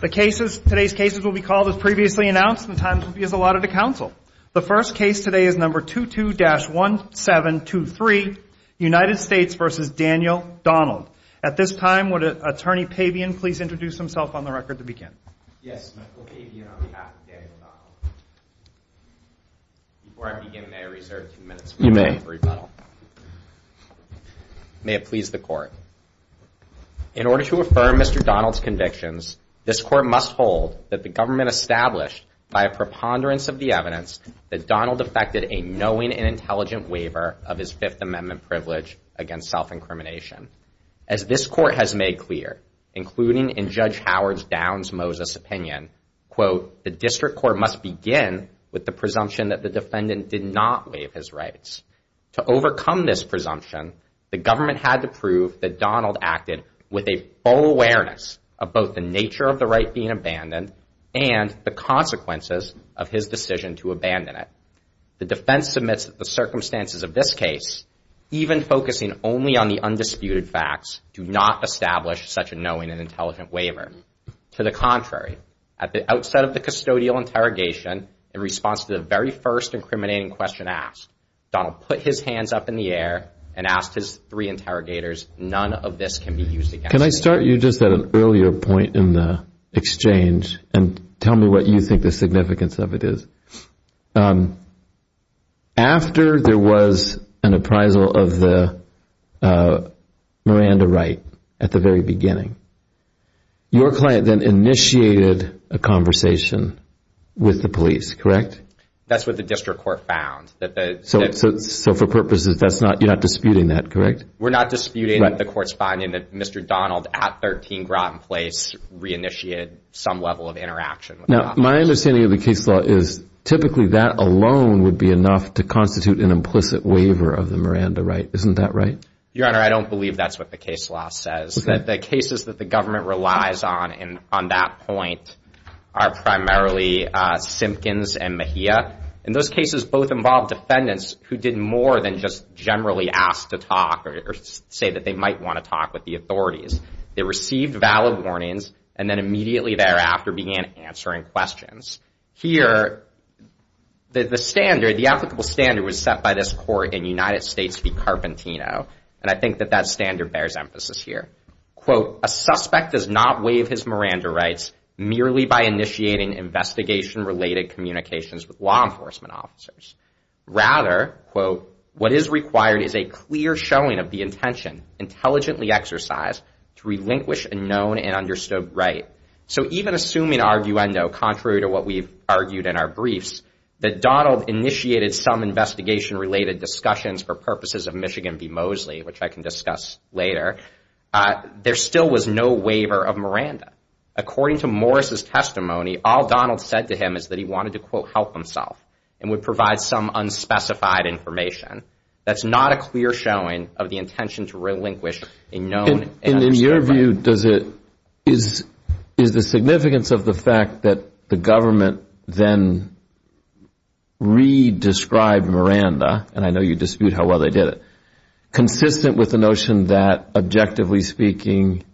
The cases, today's cases will be called as previously announced and the times will be as allotted to counsel. The first case today is number 22-1723, United States v. Daniel Donald. At this time, would Attorney Pabian please introduce himself on the record to begin? Yes, Michael Pabian on behalf of Daniel Donald. Before I begin, may I reserve two minutes for a moment of rebuttal? You may. May it please the Court. In order to affirm Mr. Donald's convictions, this Court must hold that the government established by a preponderance of the evidence that Donald effected a knowing and intelligent waiver of his Fifth Amendment privilege against self-incrimination. As this Court has made clear, including in Judge Howard's Downs-Moses opinion, quote, the District Court must begin with the presumption that the defendant did not waive his rights. To overcome this presumption, the government had to prove that Donald acted with a full awareness of both the nature of the right being abandoned and the consequences of his decision to abandon it. The defense submits that the circumstances of this case, even focusing only on the undisputed facts, do not establish such a knowing and intelligent waiver. To the contrary, at the outset of the custodial interrogation, in response to the very first incriminating question asked, Donald put his hands up in the air and asked his three interrogators, none of this can be used against him. Can I start you just at an earlier point in the exchange and tell me what you think the significance of it is? After there was an appraisal of the Miranda right at the very beginning, your client then initiated a conversation with the police, correct? That's what the District Court found. So for purposes, you're not disputing that, correct? We're not disputing the court's finding that Mr. Donald at 13 Groton Place reinitiated some level of interaction with the officers. Now, my understanding of the case law is typically that alone would be enough to constitute an implicit waiver of the Miranda right, isn't that right? Your Honor, I don't believe that's what the case law says. The cases that the government relies on on that point are primarily Simpkins and Mejia. And those cases both involved defendants who did more than just generally ask to talk or say that they might want to talk with the authorities. They received valid warnings and then immediately thereafter began answering questions. Here, the standard, the applicable standard was set by this court in the United States to be Carpentino. And I think that that standard bears emphasis here. Quote, a suspect does not waive his Miranda rights merely by initiating investigation-related communications with law enforcement officers. Rather, quote, what is required is a clear showing of the intention, intelligently exercised, to relinquish a known and understood right. So even assuming, arguendo, contrary to what we've argued in our briefs, that Donald initiated some investigation-related discussions for purposes of Michigan v. Mosley, which I can discuss later, there still was no waiver of Miranda. According to Morris' testimony, all Donald said to him is that he wanted to, quote, help himself and would provide some unspecified information. That's not a clear showing of the intention to relinquish a known and understood right. In your view, is the significance of the fact that the government then re-described Miranda, and I know you dispute how well they did it, consistent with the notion that, objectively speaking,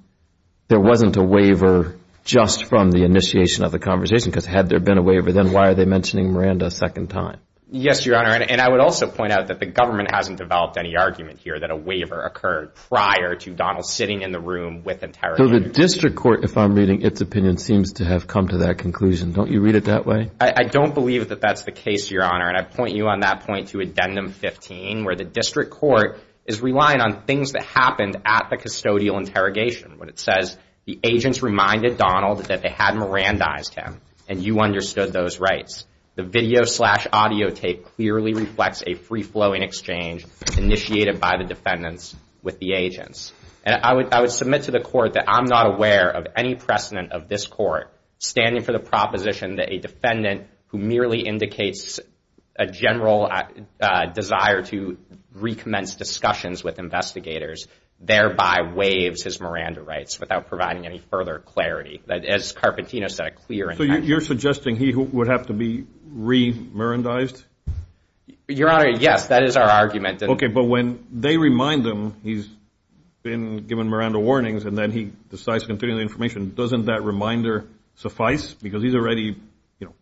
there wasn't a waiver just from the initiation of the conversation? Because had there been a waiver, then why are they mentioning Miranda a second time? Yes, Your Honor, and I would also point out that the government hasn't developed any argument here that a waiver occurred prior to Donald sitting in the room with interrogators. So the district court, if I'm reading its opinion, seems to have come to that conclusion. Don't you read it that way? I don't believe that that's the case, Your Honor, and I point you on that point to Addendum 15, where the district court is relying on things that happened at the custodial interrogation. When it says, the agents reminded Donald that they had Mirandized him, and you understood those rights. The video slash audio tape clearly reflects a free-flowing exchange initiated by the defendants with the agents. And I would submit to the court that I'm not aware of any precedent of this court standing for the proposition that a defendant who merely indicates a general desire to recommence discussions with investigators, thereby waives his Miranda rights without providing any further clarity. As Carpentino said, a clear intention. So you're suggesting he would have to be re-Mirandized? Your Honor, yes, that is our argument. Okay, but when they remind him he's been given Miranda warnings, and then he decides to continue the information, doesn't that reminder suffice? Because he's already, you know,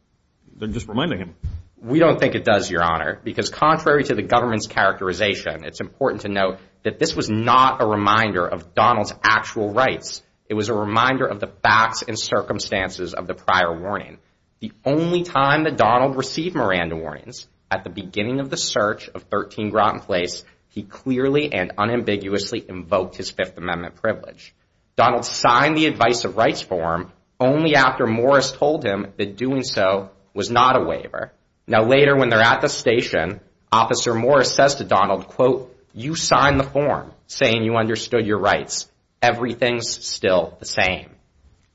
they're just reminding him. We don't think it does, Your Honor, because contrary to the government's characterization, it's important to note that this was not a reminder of Donald's actual rights. It was a reminder of the facts and circumstances of the prior warning. The only time that Donald received Miranda warnings, at the beginning of the search of 13 Groton Place, he clearly and unambiguously invoked his Fifth Amendment privilege. Donald signed the Advice of Rights form only after Morris told him that doing so was not a waiver. Now later when they're at the station, Officer Morris says to Donald, quote, you signed the form saying you understood your rights. Everything's still the same.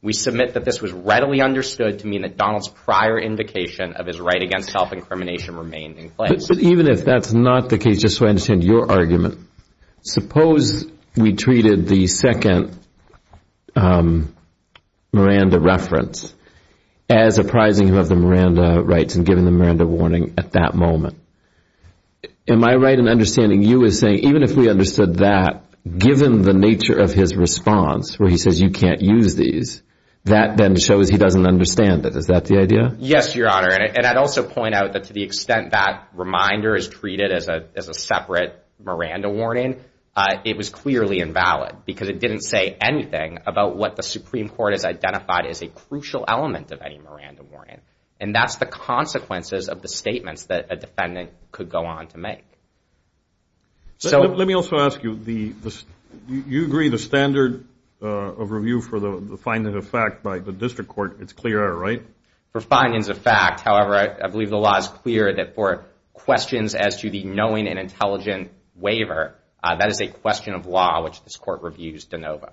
We submit that this was readily understood to mean that Donald's prior indication of his right against self-incrimination remained in place. But even if that's not the case, just so I understand your argument, suppose we treated the second Miranda reference as apprising of the Miranda rights and giving the Miranda warning at that moment. Am I right in understanding you as saying even if we understood that, given the nature of his response where he says you can't use these, that then shows he doesn't understand it. Is that the idea? Yes, Your Honor. And I'd also point out that to the extent that reminder is treated as a separate Miranda warning, it was clearly invalid because it didn't say anything about what the Supreme Court has identified as a crucial element of any Miranda warning. And that's the consequences of the statements that a defendant could go on to make. Let me also ask you, you agree the standard of review for the finding of fact by the district court, it's clear, right? For findings of fact, however, I believe the law is clear that for questions as to the knowing and intelligent waiver, that is a question of law which this court reviews de novo.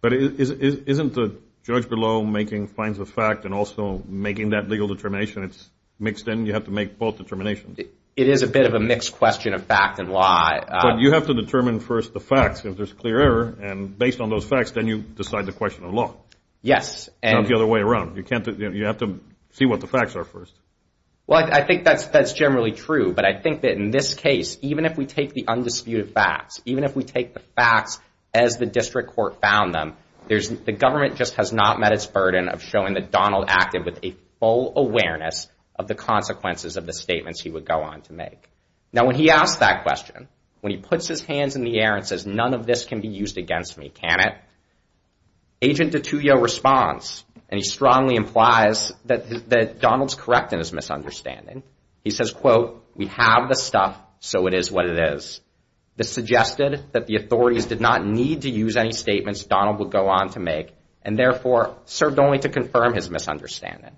But isn't the judge below making finds of fact and also making that legal determination, it's mixed in, you have to make both determinations. It is a bit of a mixed question of fact and law. But you have to determine first the facts if there's clear error and based on those facts, then you decide the question of law. Yes. Not the other way around. You have to see what the facts are first. Well, I think that's generally true. But I think that in this case, even if we take the undisputed facts, even if we take the facts as the district court found them, the government just has not met its burden of showing that Donald acted with a full awareness of the consequences of the statements he would go on to make. Now, when he asks that question, when he puts his hands in the air and says, none of this can be used against me, can it? Agent DiTullio responds, and he strongly implies that Donald's correct in his misunderstanding. He says, quote, we have the stuff, so it is what it is. This suggested that the authorities did not need to use any statements Donald would go on to make and, therefore, served only to confirm his misunderstanding.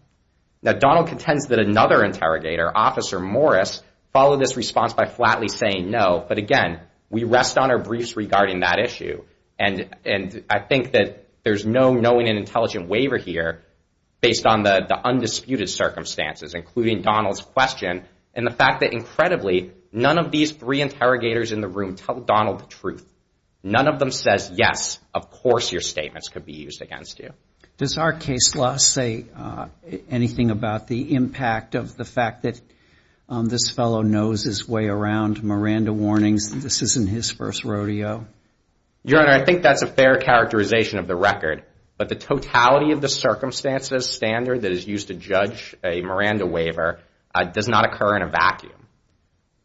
Now, Donald contends that another interrogator, Officer Morris, followed this response by flatly saying no. But, again, we rest on our briefs regarding that issue. And I think that there's no knowing and intelligent waiver here based on the undisputed circumstances, including Donald's question and the fact that, incredibly, none of these three interrogators in the room tell Donald the truth. None of them says, yes, of course your statements could be used against you. Does our case law say anything about the impact of the fact that this fellow knows his way around Miranda warnings and this isn't his first rodeo? Your Honor, I think that's a fair characterization of the record. But the totality of the circumstances standard that is used to judge a Miranda waiver does not occur in a vacuum.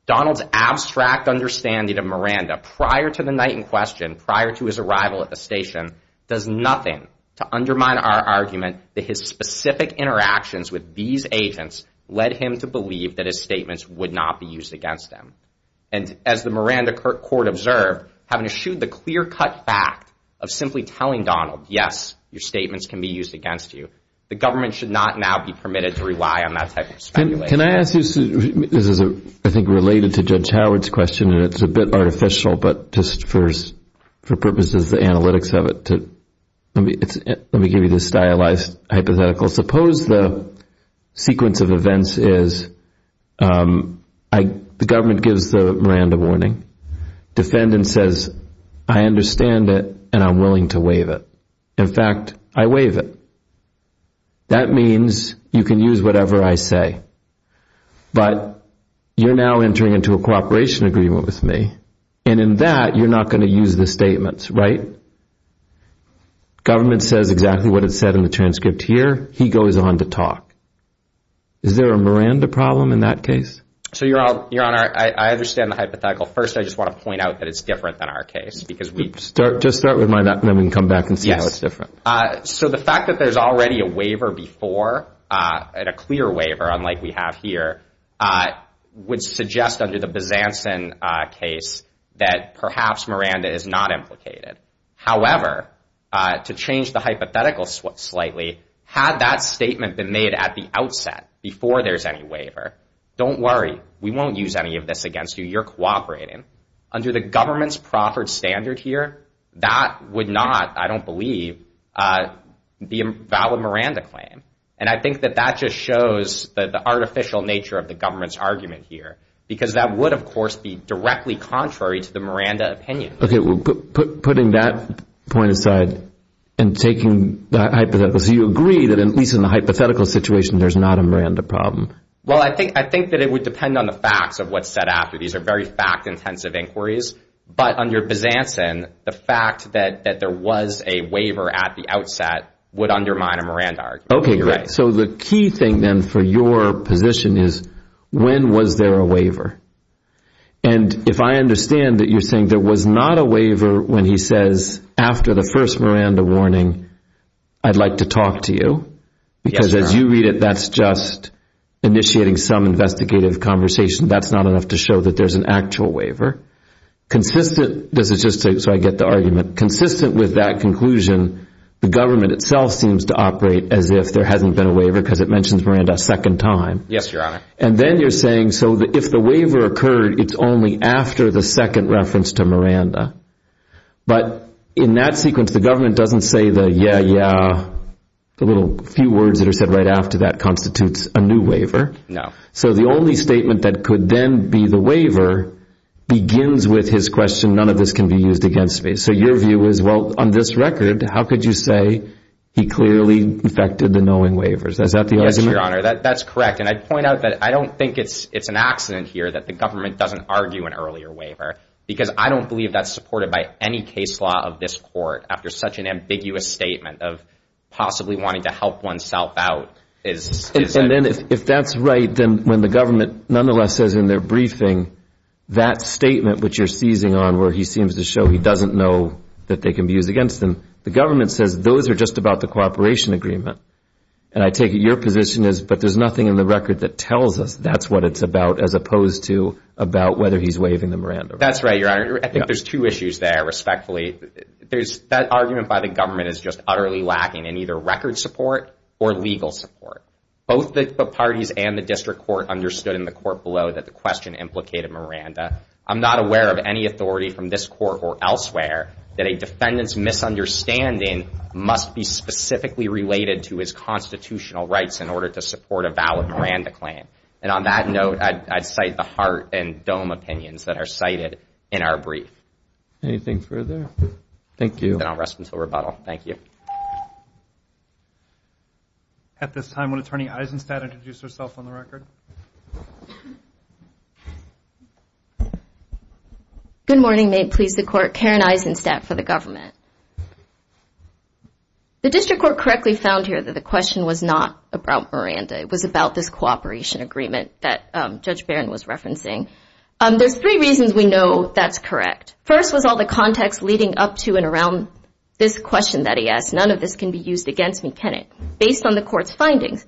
Donald's abstract understanding of Miranda prior to the night in question, prior to his arrival at the station, does nothing to undermine our argument that his specific interactions with these agents led him to believe that his statements would not be used against him. And as the Miranda court observed, having eschewed the clear-cut fact of simply telling Donald, yes, your statements can be used against you, the government should not now be permitted to rely on that type of speculation. Can I ask you, this is, I think, related to Judge Howard's question, and it's a bit artificial, but just for purposes of the analytics of it, let me give you this stylized hypothetical. Suppose the sequence of events is the government gives the Miranda warning, defendant says, I understand it and I'm willing to waive it. In fact, I waive it. That means you can use whatever I say. But you're now entering into a cooperation agreement with me, and in that you're not going to use the statements, right? Government says exactly what it said in the transcript here. He goes on to talk. Is there a Miranda problem in that case? So, Your Honor, I understand the hypothetical. First, I just want to point out that it's different than our case. Just start with mine, and then we can come back and see how it's different. So the fact that there's already a waiver before, and a clear waiver, unlike we have here, would suggest under the Bazanson case that perhaps Miranda is not implicated. However, to change the hypothetical slightly, had that statement been made at the outset, before there's any waiver, don't worry, we won't use any of this against you, you're cooperating. Under the government's proffered standard here, that would not, I don't believe, be a valid Miranda claim. And I think that that just shows the artificial nature of the government's argument here, because that would, of course, be directly contrary to the Miranda opinion. Okay, well, putting that point aside and taking that hypothetical, so you agree that at least in the hypothetical situation, there's not a Miranda problem? Well, I think that it would depend on the facts of what's said after. These are very fact-intensive inquiries. But under Bazanson, the fact that there was a waiver at the outset would undermine a Miranda argument. Okay, so the key thing then for your position is, when was there a waiver? And if I understand that you're saying there was not a waiver when he says, after the first Miranda warning, I'd like to talk to you, because as you read it, that's just initiating some investigative conversation. That's not enough to show that there's an actual waiver. Consistent, this is just so I get the argument, consistent with that conclusion, the government itself seems to operate as if there hasn't been a waiver because it mentions Miranda a second time. Yes, Your Honor. And then you're saying, so if the waiver occurred, it's only after the second reference to Miranda. But in that sequence, the government doesn't say the yeah, yeah, the little few words that are said right after that constitutes a new waiver. No. So the only statement that could then be the waiver begins with his question, none of this can be used against me. And so your view is, well, on this record, how could you say he clearly infected the knowing waivers? Is that the argument? Yes, Your Honor, that's correct. And I'd point out that I don't think it's an accident here that the government doesn't argue an earlier waiver, because I don't believe that's supported by any case law of this court after such an ambiguous statement of possibly wanting to help oneself out. And then if that's right, then when the government nonetheless says in their briefing that statement which you're seizing on where he seems to show he doesn't know that they can be used against him, the government says those are just about the cooperation agreement. And I take it your position is, but there's nothing in the record that tells us that's what it's about as opposed to about whether he's waiving the Miranda waiver. That's right, Your Honor. I think there's two issues there, respectfully. That argument by the government is just utterly lacking in either record support or legal support. Both the parties and the district court understood in the court below that the question implicated Miranda. I'm not aware of any authority from this court or elsewhere that a defendant's misunderstanding must be specifically related to his constitutional rights in order to support a valid Miranda claim. And on that note, I'd cite the Hart and Dohm opinions that are cited in our brief. Anything further? Thank you. Then I'll rest until rebuttal. Thank you. At this time, will Attorney Eisenstadt introduce herself on the record? Good morning. May it please the Court. Karen Eisenstadt for the government. The district court correctly found here that the question was not about Miranda. It was about this cooperation agreement that Judge Barron was referencing. There's three reasons we know that's correct. First was all the context leading up to and around this question that he asked. None of this can be used against me, can it? Based on the court's findings,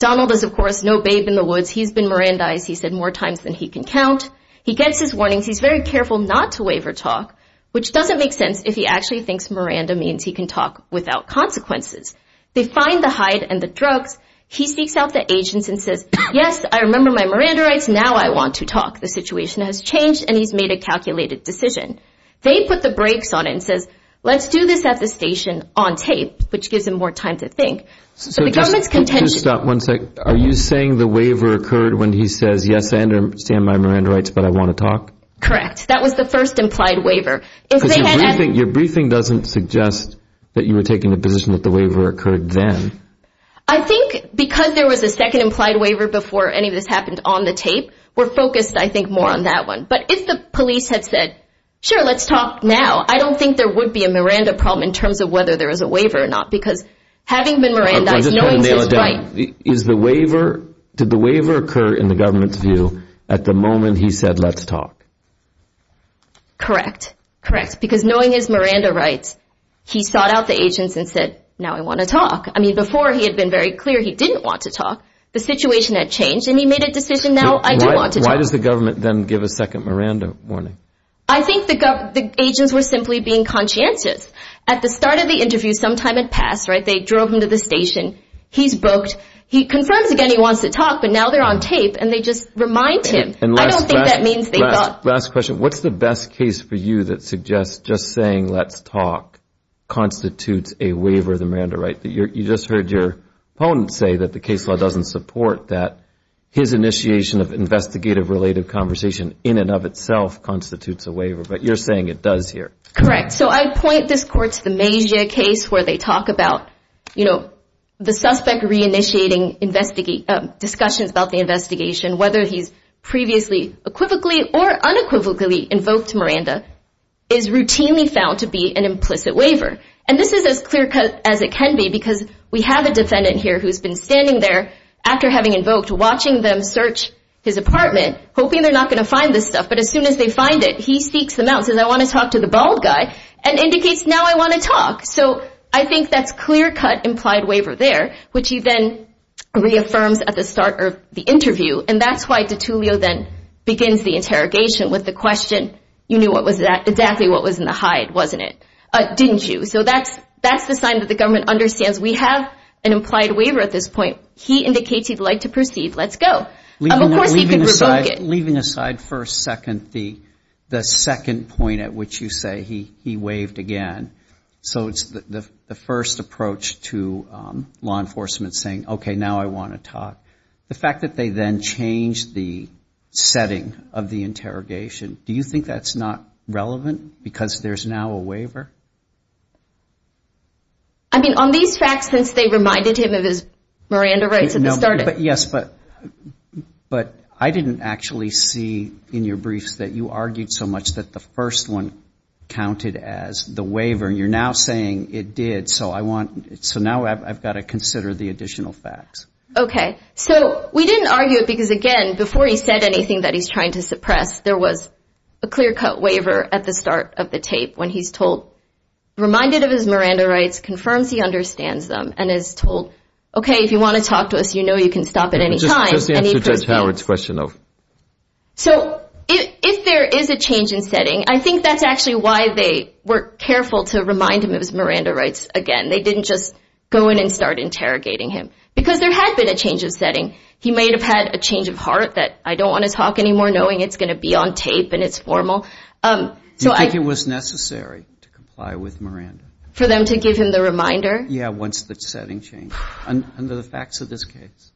Donald is, of course, no babe in the woods. He's been Mirandized. He's said more times than he can count. He gets his warnings. He's very careful not to waive her talk, which doesn't make sense if he actually thinks Miranda means he can talk without consequences. They find the hide and the drugs. He seeks out the agents and says, yes, I remember my Miranda rights. Now I want to talk. The situation has changed, and he's made a calculated decision. They put the brakes on it and says, let's do this at the station on tape, which gives him more time to think. So the government's contention. Just stop one second. Are you saying the waiver occurred when he says, yes, I understand my Miranda rights, but I want to talk? Correct. That was the first implied waiver. Because your briefing doesn't suggest that you were taking the position that the waiver occurred then. I think because there was a second implied waiver before any of this happened on the tape, we're focused, I think, more on that one. But if the police had said, sure, let's talk now, I don't think there would be a Miranda problem in terms of whether there is a waiver or not. Because having been Miranda, knowing his rights. Did the waiver occur in the government's view at the moment he said, let's talk? Correct. Correct. Because knowing his Miranda rights, he sought out the agents and said, now I want to talk. I mean, before he had been very clear he didn't want to talk. The situation had changed, and he made a decision, now I do want to talk. Why does the government then give a second Miranda warning? I think the agents were simply being conscientious. At the start of the interview, sometime had passed, they drove him to the station. He's booked. He confirms again he wants to talk, but now they're on tape, and they just remind him. I don't think that means they thought. Last question, what's the best case for you that suggests just saying let's talk constitutes a waiver of the Miranda right? You just heard your opponent say that the case law doesn't support that. His initiation of investigative-related conversation in and of itself constitutes a waiver, but you're saying it does here. Correct. So I point this court to the Mazia case where they talk about, you know, the suspect reinitiating discussions about the investigation, whether he's previously equivocally or unequivocally invoked Miranda, is routinely found to be an implicit waiver. And this is as clear-cut as it can be because we have a defendant here who's been standing there after having invoked, watching them search his apartment, hoping they're not going to find this stuff. But as soon as they find it, he sneaks them out and says I want to talk to the bald guy and indicates now I want to talk. So I think that's clear-cut implied waiver there, which he then reaffirms at the start of the interview. And that's why DiTullio then begins the interrogation with the question, you knew exactly what was in the hide, wasn't it, didn't you? So that's the sign that the government understands we have an implied waiver at this point. He indicates he'd like to proceed. Let's go. Of course he could revoke it. Leaving aside for a second the second point at which you say he waived again, so it's the first approach to law enforcement saying, okay, now I want to talk. The fact that they then change the setting of the interrogation, I mean, on these facts since they reminded him of his Miranda rights at the start. Yes, but I didn't actually see in your briefs that you argued so much that the first one counted as the waiver. You're now saying it did. So now I've got to consider the additional facts. Okay. So we didn't argue it because, again, before he said anything that he's trying to suppress, there was a clear-cut waiver at the start of the tape when he's told, reminded of his Miranda rights, confirms he understands them, and is told, okay, if you want to talk to us, you know you can stop at any time. Just to answer Judge Howard's question, though. So if there is a change in setting, I think that's actually why they were careful to remind him of his Miranda rights again. They didn't just go in and start interrogating him because there had been a change of setting. He may have had a change of heart that I don't want to talk anymore, knowing it's going to be on tape and it's formal. Do you think it was necessary to comply with Miranda? For them to give him the reminder? Yeah, once the setting changed. Under the facts of this case?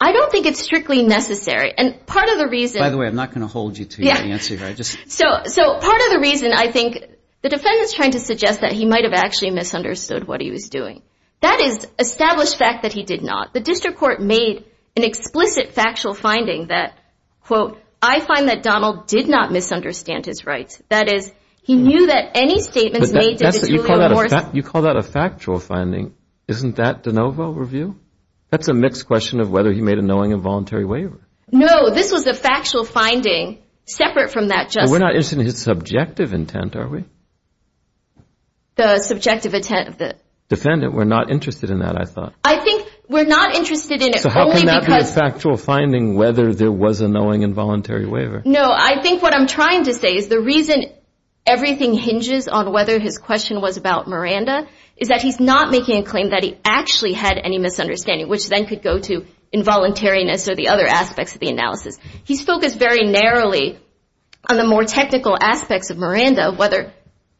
I don't think it's strictly necessary. And part of the reason – By the way, I'm not going to hold you to your answer here. So part of the reason, I think, the defendant's trying to suggest that he might have actually misunderstood what he was doing. That is established fact that he did not. The district court made an explicit factual finding that, quote, I find that Donald did not misunderstand his rights. That is, he knew that any statements made – You call that a factual finding. Isn't that de novo review? That's a mixed question of whether he made a knowing and voluntary waiver. No, this was a factual finding separate from that – We're not interested in his subjective intent, are we? The subjective intent of the – Defendant, we're not interested in that, I thought. I think we're not interested in it only because – So how can that be a factual finding, whether there was a knowing and voluntary waiver? No, I think what I'm trying to say is the reason everything hinges on whether his question was about Miranda is that he's not making a claim that he actually had any misunderstanding, which then could go to involuntariness or the other aspects of the analysis.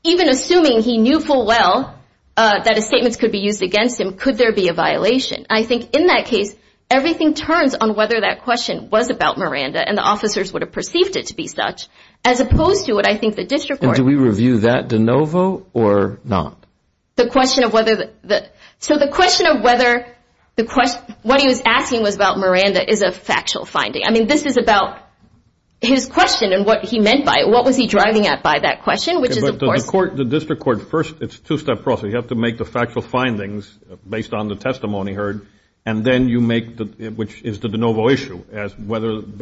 Even assuming he knew full well that his statements could be used against him, could there be a violation? I think in that case, everything turns on whether that question was about Miranda and the officers would have perceived it to be such, as opposed to what I think the district court – Do we review that de novo or not? The question of whether – So the question of whether – What he was asking was about Miranda is a factual finding. I mean, this is about his question and what he meant by it. The district court, first, it's a two-step process. You have to make the factual findings based on the testimony heard, and then you make – which is the de novo issue, as whether –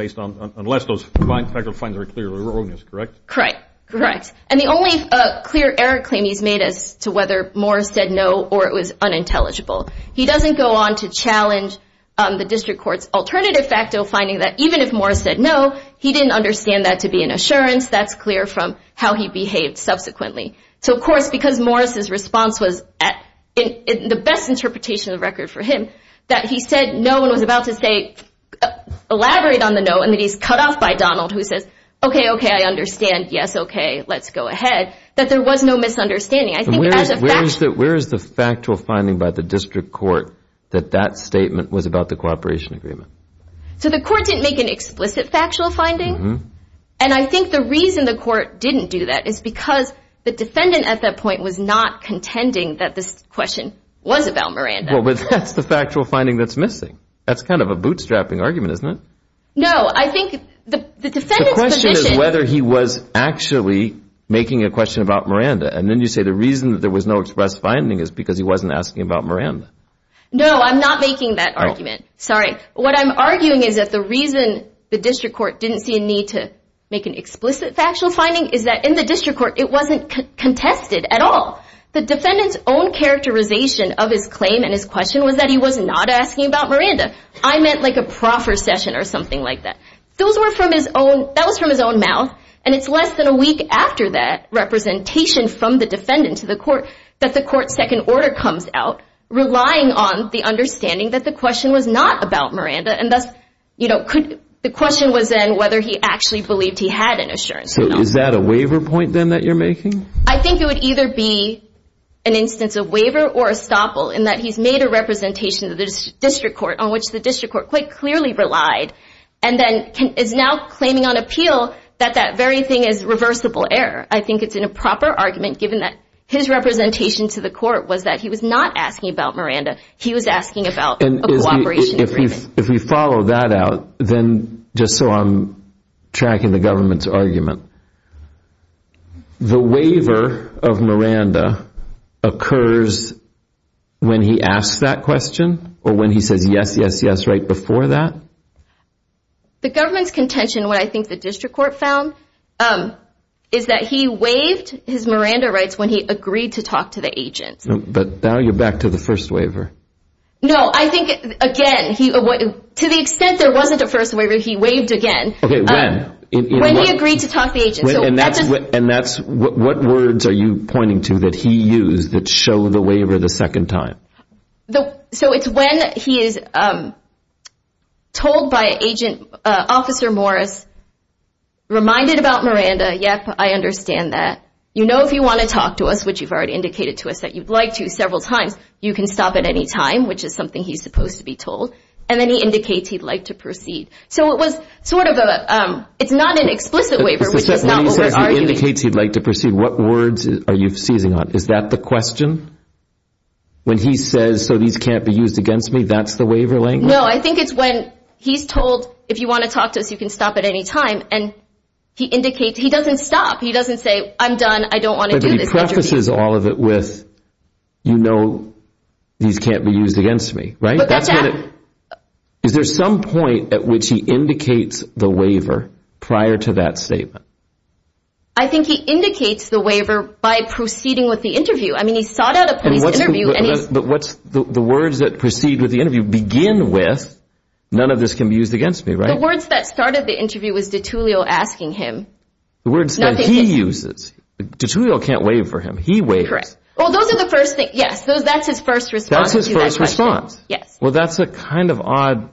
unless those factual findings are clearly erroneous, correct? Correct, correct. And the only clear error claim he's made as to whether Morris said no or it was unintelligible, he doesn't go on to challenge the district court's alternative facto finding that even if Morris said no, he didn't understand that to be an assurance. That's clear from how he behaved subsequently. So, of course, because Morris's response was, in the best interpretation of the record for him, that he said no and was about to say, elaborate on the no, and that he's cut off by Donald who says, okay, okay, I understand, yes, okay, let's go ahead, that there was no misunderstanding. Where is the factual finding by the district court that that statement was about the cooperation agreement? So the court didn't make an explicit factual finding, and I think the reason the court didn't do that is because the defendant at that point was not contending that this question was about Miranda. Well, but that's the factual finding that's missing. That's kind of a bootstrapping argument, isn't it? No, I think the defendant's position – The question is whether he was actually making a question about Miranda, and then you say the reason that there was no express finding is because he wasn't asking about Miranda. No, I'm not making that argument. Sorry. What I'm arguing is that the reason the district court didn't see a need to make an explicit factual finding is that in the district court it wasn't contested at all. The defendant's own characterization of his claim and his question was that he was not asking about Miranda. I meant like a proffer session or something like that. Those were from his own – that was from his own mouth, and it's less than a week after that representation from the defendant to the court that the court's second order comes out relying on the understanding that the question was not about Miranda, and thus the question was then whether he actually believed he had an assurance. So is that a waiver point then that you're making? I think it would either be an instance of waiver or estoppel in that he's made a representation to the district court on which the district court quite clearly relied and then is now claiming on appeal that that very thing is reversible error. I think it's an improper argument given that his representation to the court was that he was not asking about Miranda. He was asking about a cooperation agreement. If we follow that out, then just so I'm tracking the government's argument, the waiver of Miranda occurs when he asks that question or when he says yes, yes, yes right before that? The government's contention, what I think the district court found, is that he waived his Miranda rights when he agreed to talk to the agent. But now you're back to the first waiver. No, I think again, to the extent there wasn't a first waiver, he waived again. Okay, when? When he agreed to talk to the agent. And what words are you pointing to that he used that show the waiver the second time? So it's when he is told by Agent Officer Morris, reminded about Miranda, yep, I understand that, you know if you want to talk to us, which you've already indicated to us that you'd like to several times, you can stop at any time, which is something he's supposed to be told, and then he indicates he'd like to proceed. So it was sort of a, it's not an explicit waiver, which is not what we're arguing. When you say he indicates he'd like to proceed, what words are you seizing on? Is that the question? When he says, so these can't be used against me, that's the waiver language? No, I think it's when he's told, if you want to talk to us, you can stop at any time, and he indicates, he doesn't stop. He doesn't say, I'm done, I don't want to do this. But he prefaces all of it with, you know, these can't be used against me, right? But that's not. Is there some point at which he indicates the waiver prior to that statement? I think he indicates the waiver by proceeding with the interview. I mean, he sought out a police interview. But what's the words that proceed with the interview begin with, none of this can be used against me, right? The words that started the interview was de Tullio asking him. The words that he uses. De Tullio can't waive for him. He waives. Correct. Well, those are the first things. Yes, that's his first response. That's his first response. Yes. Well, that's a kind of odd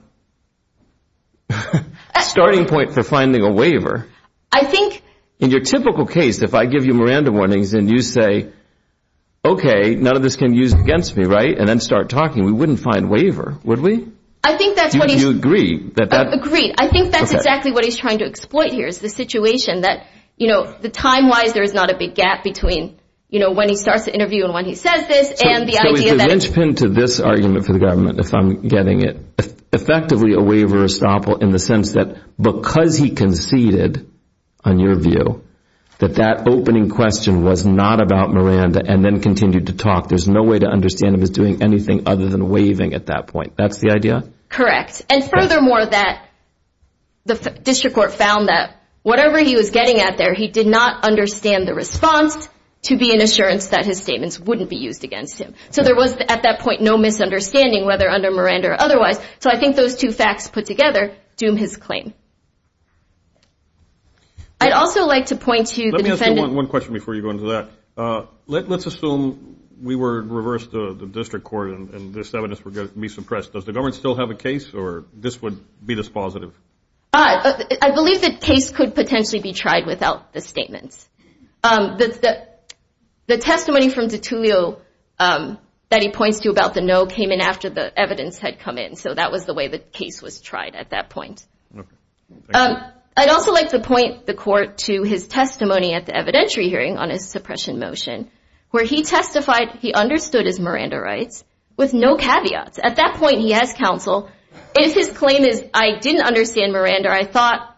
starting point for finding a waiver. I think. In your typical case, if I give you Miranda warnings and you say, okay, none of this can be used against me, right, and then start talking, we wouldn't find waiver, would we? I think that's what he's. Do you agree? I agree. I think that's exactly what he's trying to exploit here is the situation that, you know, the time-wise there is not a big gap between, you know, when he starts the interview and when he says this and the idea that. So is the linchpin to this argument for the government, if I'm getting it, in the sense that because he conceded, on your view, that that opening question was not about Miranda and then continued to talk, there's no way to understand if he's doing anything other than waiving at that point. That's the idea? Correct. And furthermore, that the district court found that whatever he was getting at there, he did not understand the response to be an assurance that his statements wouldn't be used against him. So there was, at that point, no misunderstanding whether under Miranda or otherwise. So I think those two facts put together doom his claim. I'd also like to point to the defendant. Let me ask you one question before you go into that. Let's assume we were reversed, the district court, and this evidence were going to be suppressed. Does the government still have a case or this would be dispositive? I believe the case could potentially be tried without the statements. The testimony from DeTulio that he points to about the no came in after the evidence had come in. So that was the way the case was tried at that point. Okay. Thank you. I'd also like to point the court to his testimony at the evidentiary hearing on his suppression motion where he testified he understood his Miranda rights with no caveats. At that point, he has counsel. If his claim is, I didn't understand Miranda, I thought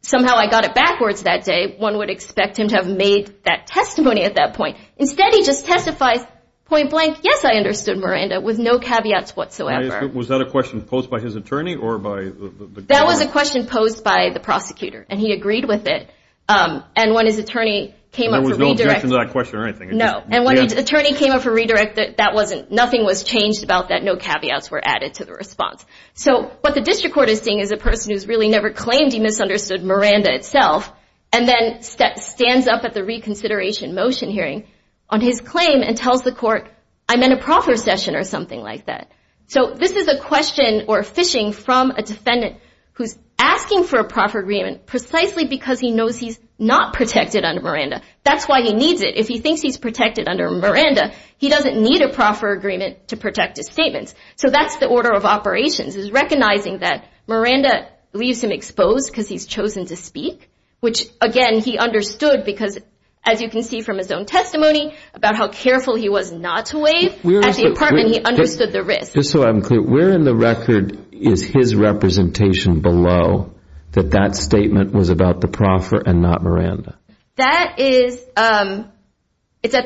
somehow I got it backwards that day, one would expect him to have made that testimony at that point. Instead, he just testifies point blank, yes, I understood Miranda with no caveats whatsoever. Was that a question posed by his attorney or by the court? That was a question posed by the prosecutor, and he agreed with it. And when his attorney came up for redirection. There was no objection to that question or anything. No. And when his attorney came up for redirection, nothing was changed about that, no caveats were added to the response. So what the district court is seeing is a person who's really never claimed he misunderstood Miranda itself, and then stands up at the reconsideration motion hearing on his claim and tells the court, I'm in a proper session or something like that. So this is a question or phishing from a defendant who's asking for a proffer agreement precisely because he knows he's not protected under Miranda. That's why he needs it. If he thinks he's protected under Miranda, he doesn't need a proffer agreement to protect his statements. So that's the order of operations, is recognizing that Miranda leaves him exposed because he's chosen to speak, which, again, he understood because, as you can see from his own testimony, about how careful he was not to wave at the apartment, and he understood the risk. Just so I'm clear, where in the record is his representation below that that statement was about the proffer and not Miranda? That is at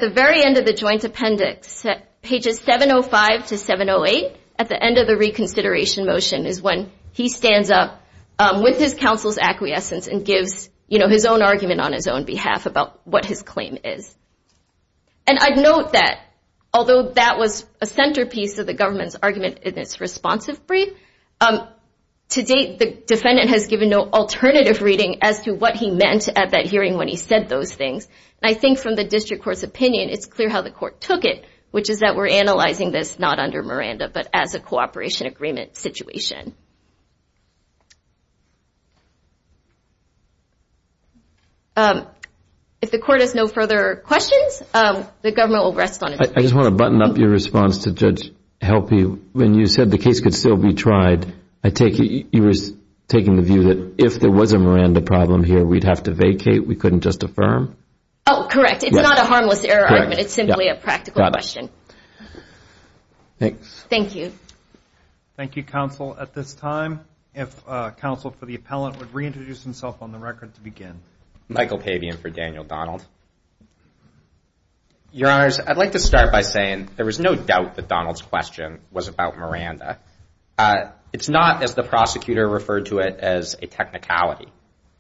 the very end of the joint appendix. Pages 705 to 708 at the end of the reconsideration motion is when he stands up with his counsel's acquiescence and gives his own argument on his own behalf about what his claim is. And I'd note that, although that was a centerpiece of the government's argument in its responsive brief, to date the defendant has given no alternative reading as to what he meant at that hearing when he said those things. And I think from the district court's opinion, it's clear how the court took it, which is that we're analyzing this not under Miranda but as a cooperation agreement situation. If the court has no further questions, the government will rest on its feet. I just want to button up your response to Judge Helpe. When you said the case could still be tried, I take it you were taking the view that if there was a Miranda problem here, we'd have to vacate, we couldn't just affirm? Oh, correct. It's not a harmless error argument. It's simply a practical question. Thank you, counsel. At this time, I'd like to turn it over to Judge Helpe. At this time, if counsel for the appellant would reintroduce himself on the record to begin. Michael Pabian for Daniel Donald. Your Honors, I'd like to start by saying there was no doubt that Donald's question was about Miranda. It's not as the prosecutor referred to it as a technicality.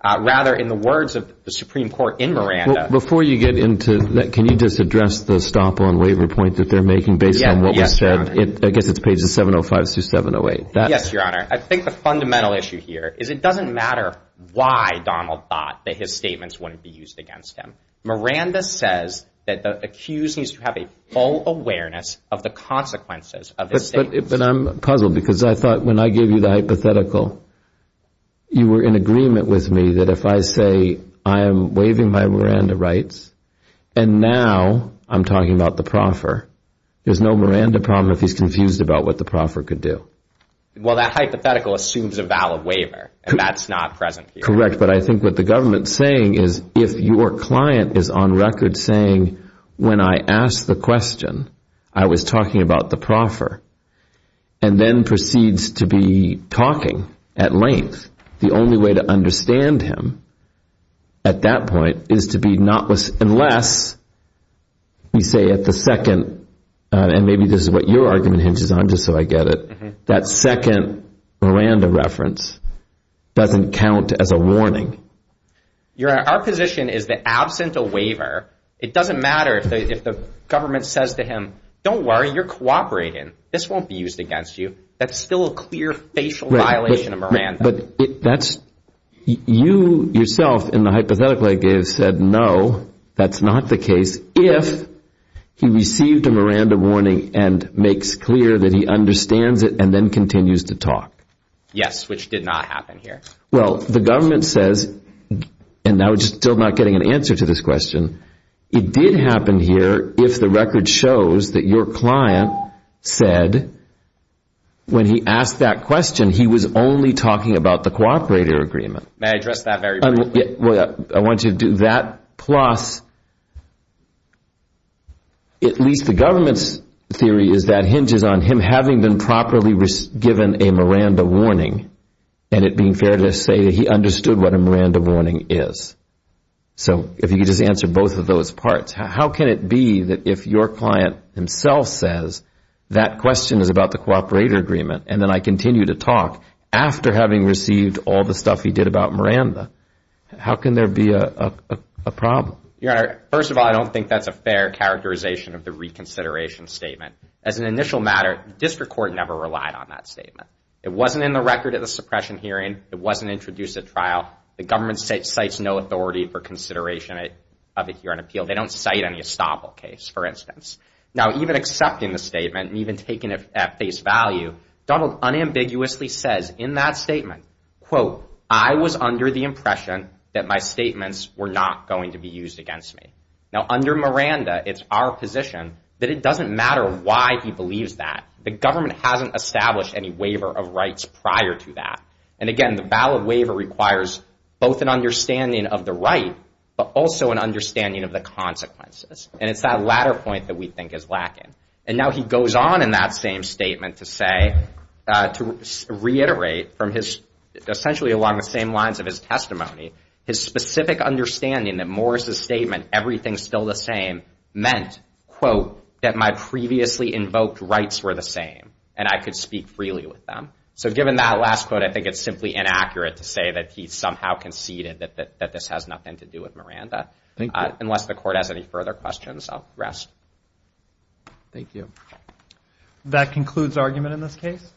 Rather, in the words of the Supreme Court in Miranda. Before you get into that, can you just address the stop on waiver point that they're making based on what was said? I guess it's pages 705 through 708. Yes, Your Honor. I think the fundamental issue here is it doesn't matter why Donald thought that his statements wouldn't be used against him. Miranda says that the accused needs to have a full awareness of the consequences of his statements. But I'm puzzled because I thought when I gave you the hypothetical, you were in agreement with me that if I say I am waiving my Miranda rights, and now I'm talking about the proffer, there's no Miranda problem if he's confused about what the proffer could do. Well, that hypothetical assumes a valid waiver, and that's not present here. Correct. But I think what the government's saying is if your client is on record saying, when I asked the question, I was talking about the proffer, and then proceeds to be talking at length, the only way to understand him at that point is to be not, unless we say at the second, and maybe this is what your argument hinges on just so I get it, that second Miranda reference doesn't count as a warning. Your Honor, our position is that absent a waiver, it doesn't matter if the government says to him, don't worry, you're cooperating. This won't be used against you. That's still a clear facial violation of Miranda. But you yourself in the hypothetical I gave said no, that's not the case, if he received a Miranda warning and makes clear that he understands it and then continues to talk. Yes, which did not happen here. Well, the government says, and I'm still not getting an answer to this question, it did happen here if the record shows that your client said, when he asked that question, he was only talking about the cooperator agreement. May I address that very briefly? I want you to do that, plus at least the government's theory is that hinges on him having been properly given a Miranda warning, and it being fair to say that he understood what a Miranda warning is. So if you could just answer both of those parts. How can it be that if your client himself says that question is about the cooperator agreement and then I continue to talk after having received all the stuff he did about Miranda, how can there be a problem? Your Honor, first of all, I don't think that's a fair characterization of the reconsideration statement. As an initial matter, the district court never relied on that statement. It wasn't in the record at the suppression hearing. It wasn't introduced at trial. The government cites no authority for consideration of it here on appeal. They don't cite any estoppel case, for instance. Now, even accepting the statement and even taking it at face value, Donald unambiguously says in that statement, quote, I was under the impression that my statements were not going to be used against me. Now, under Miranda, it's our position that it doesn't matter why he believes that. The government hasn't established any waiver of rights prior to that. And again, the valid waiver requires both an understanding of the right but also an understanding of the consequences. And it's that latter point that we think is lacking. And now he goes on in that same statement to say, to reiterate, from his essentially along the same lines of his testimony, his specific understanding that Morris' statement, everything's still the same, meant, quote, that my previously invoked rights were the same and I could speak freely with them. So given that last quote, I think it's simply inaccurate to say that he somehow conceded that this has nothing to do with Miranda. Unless the court has any further questions, I'll rest. Thank you. That concludes our argument in this case.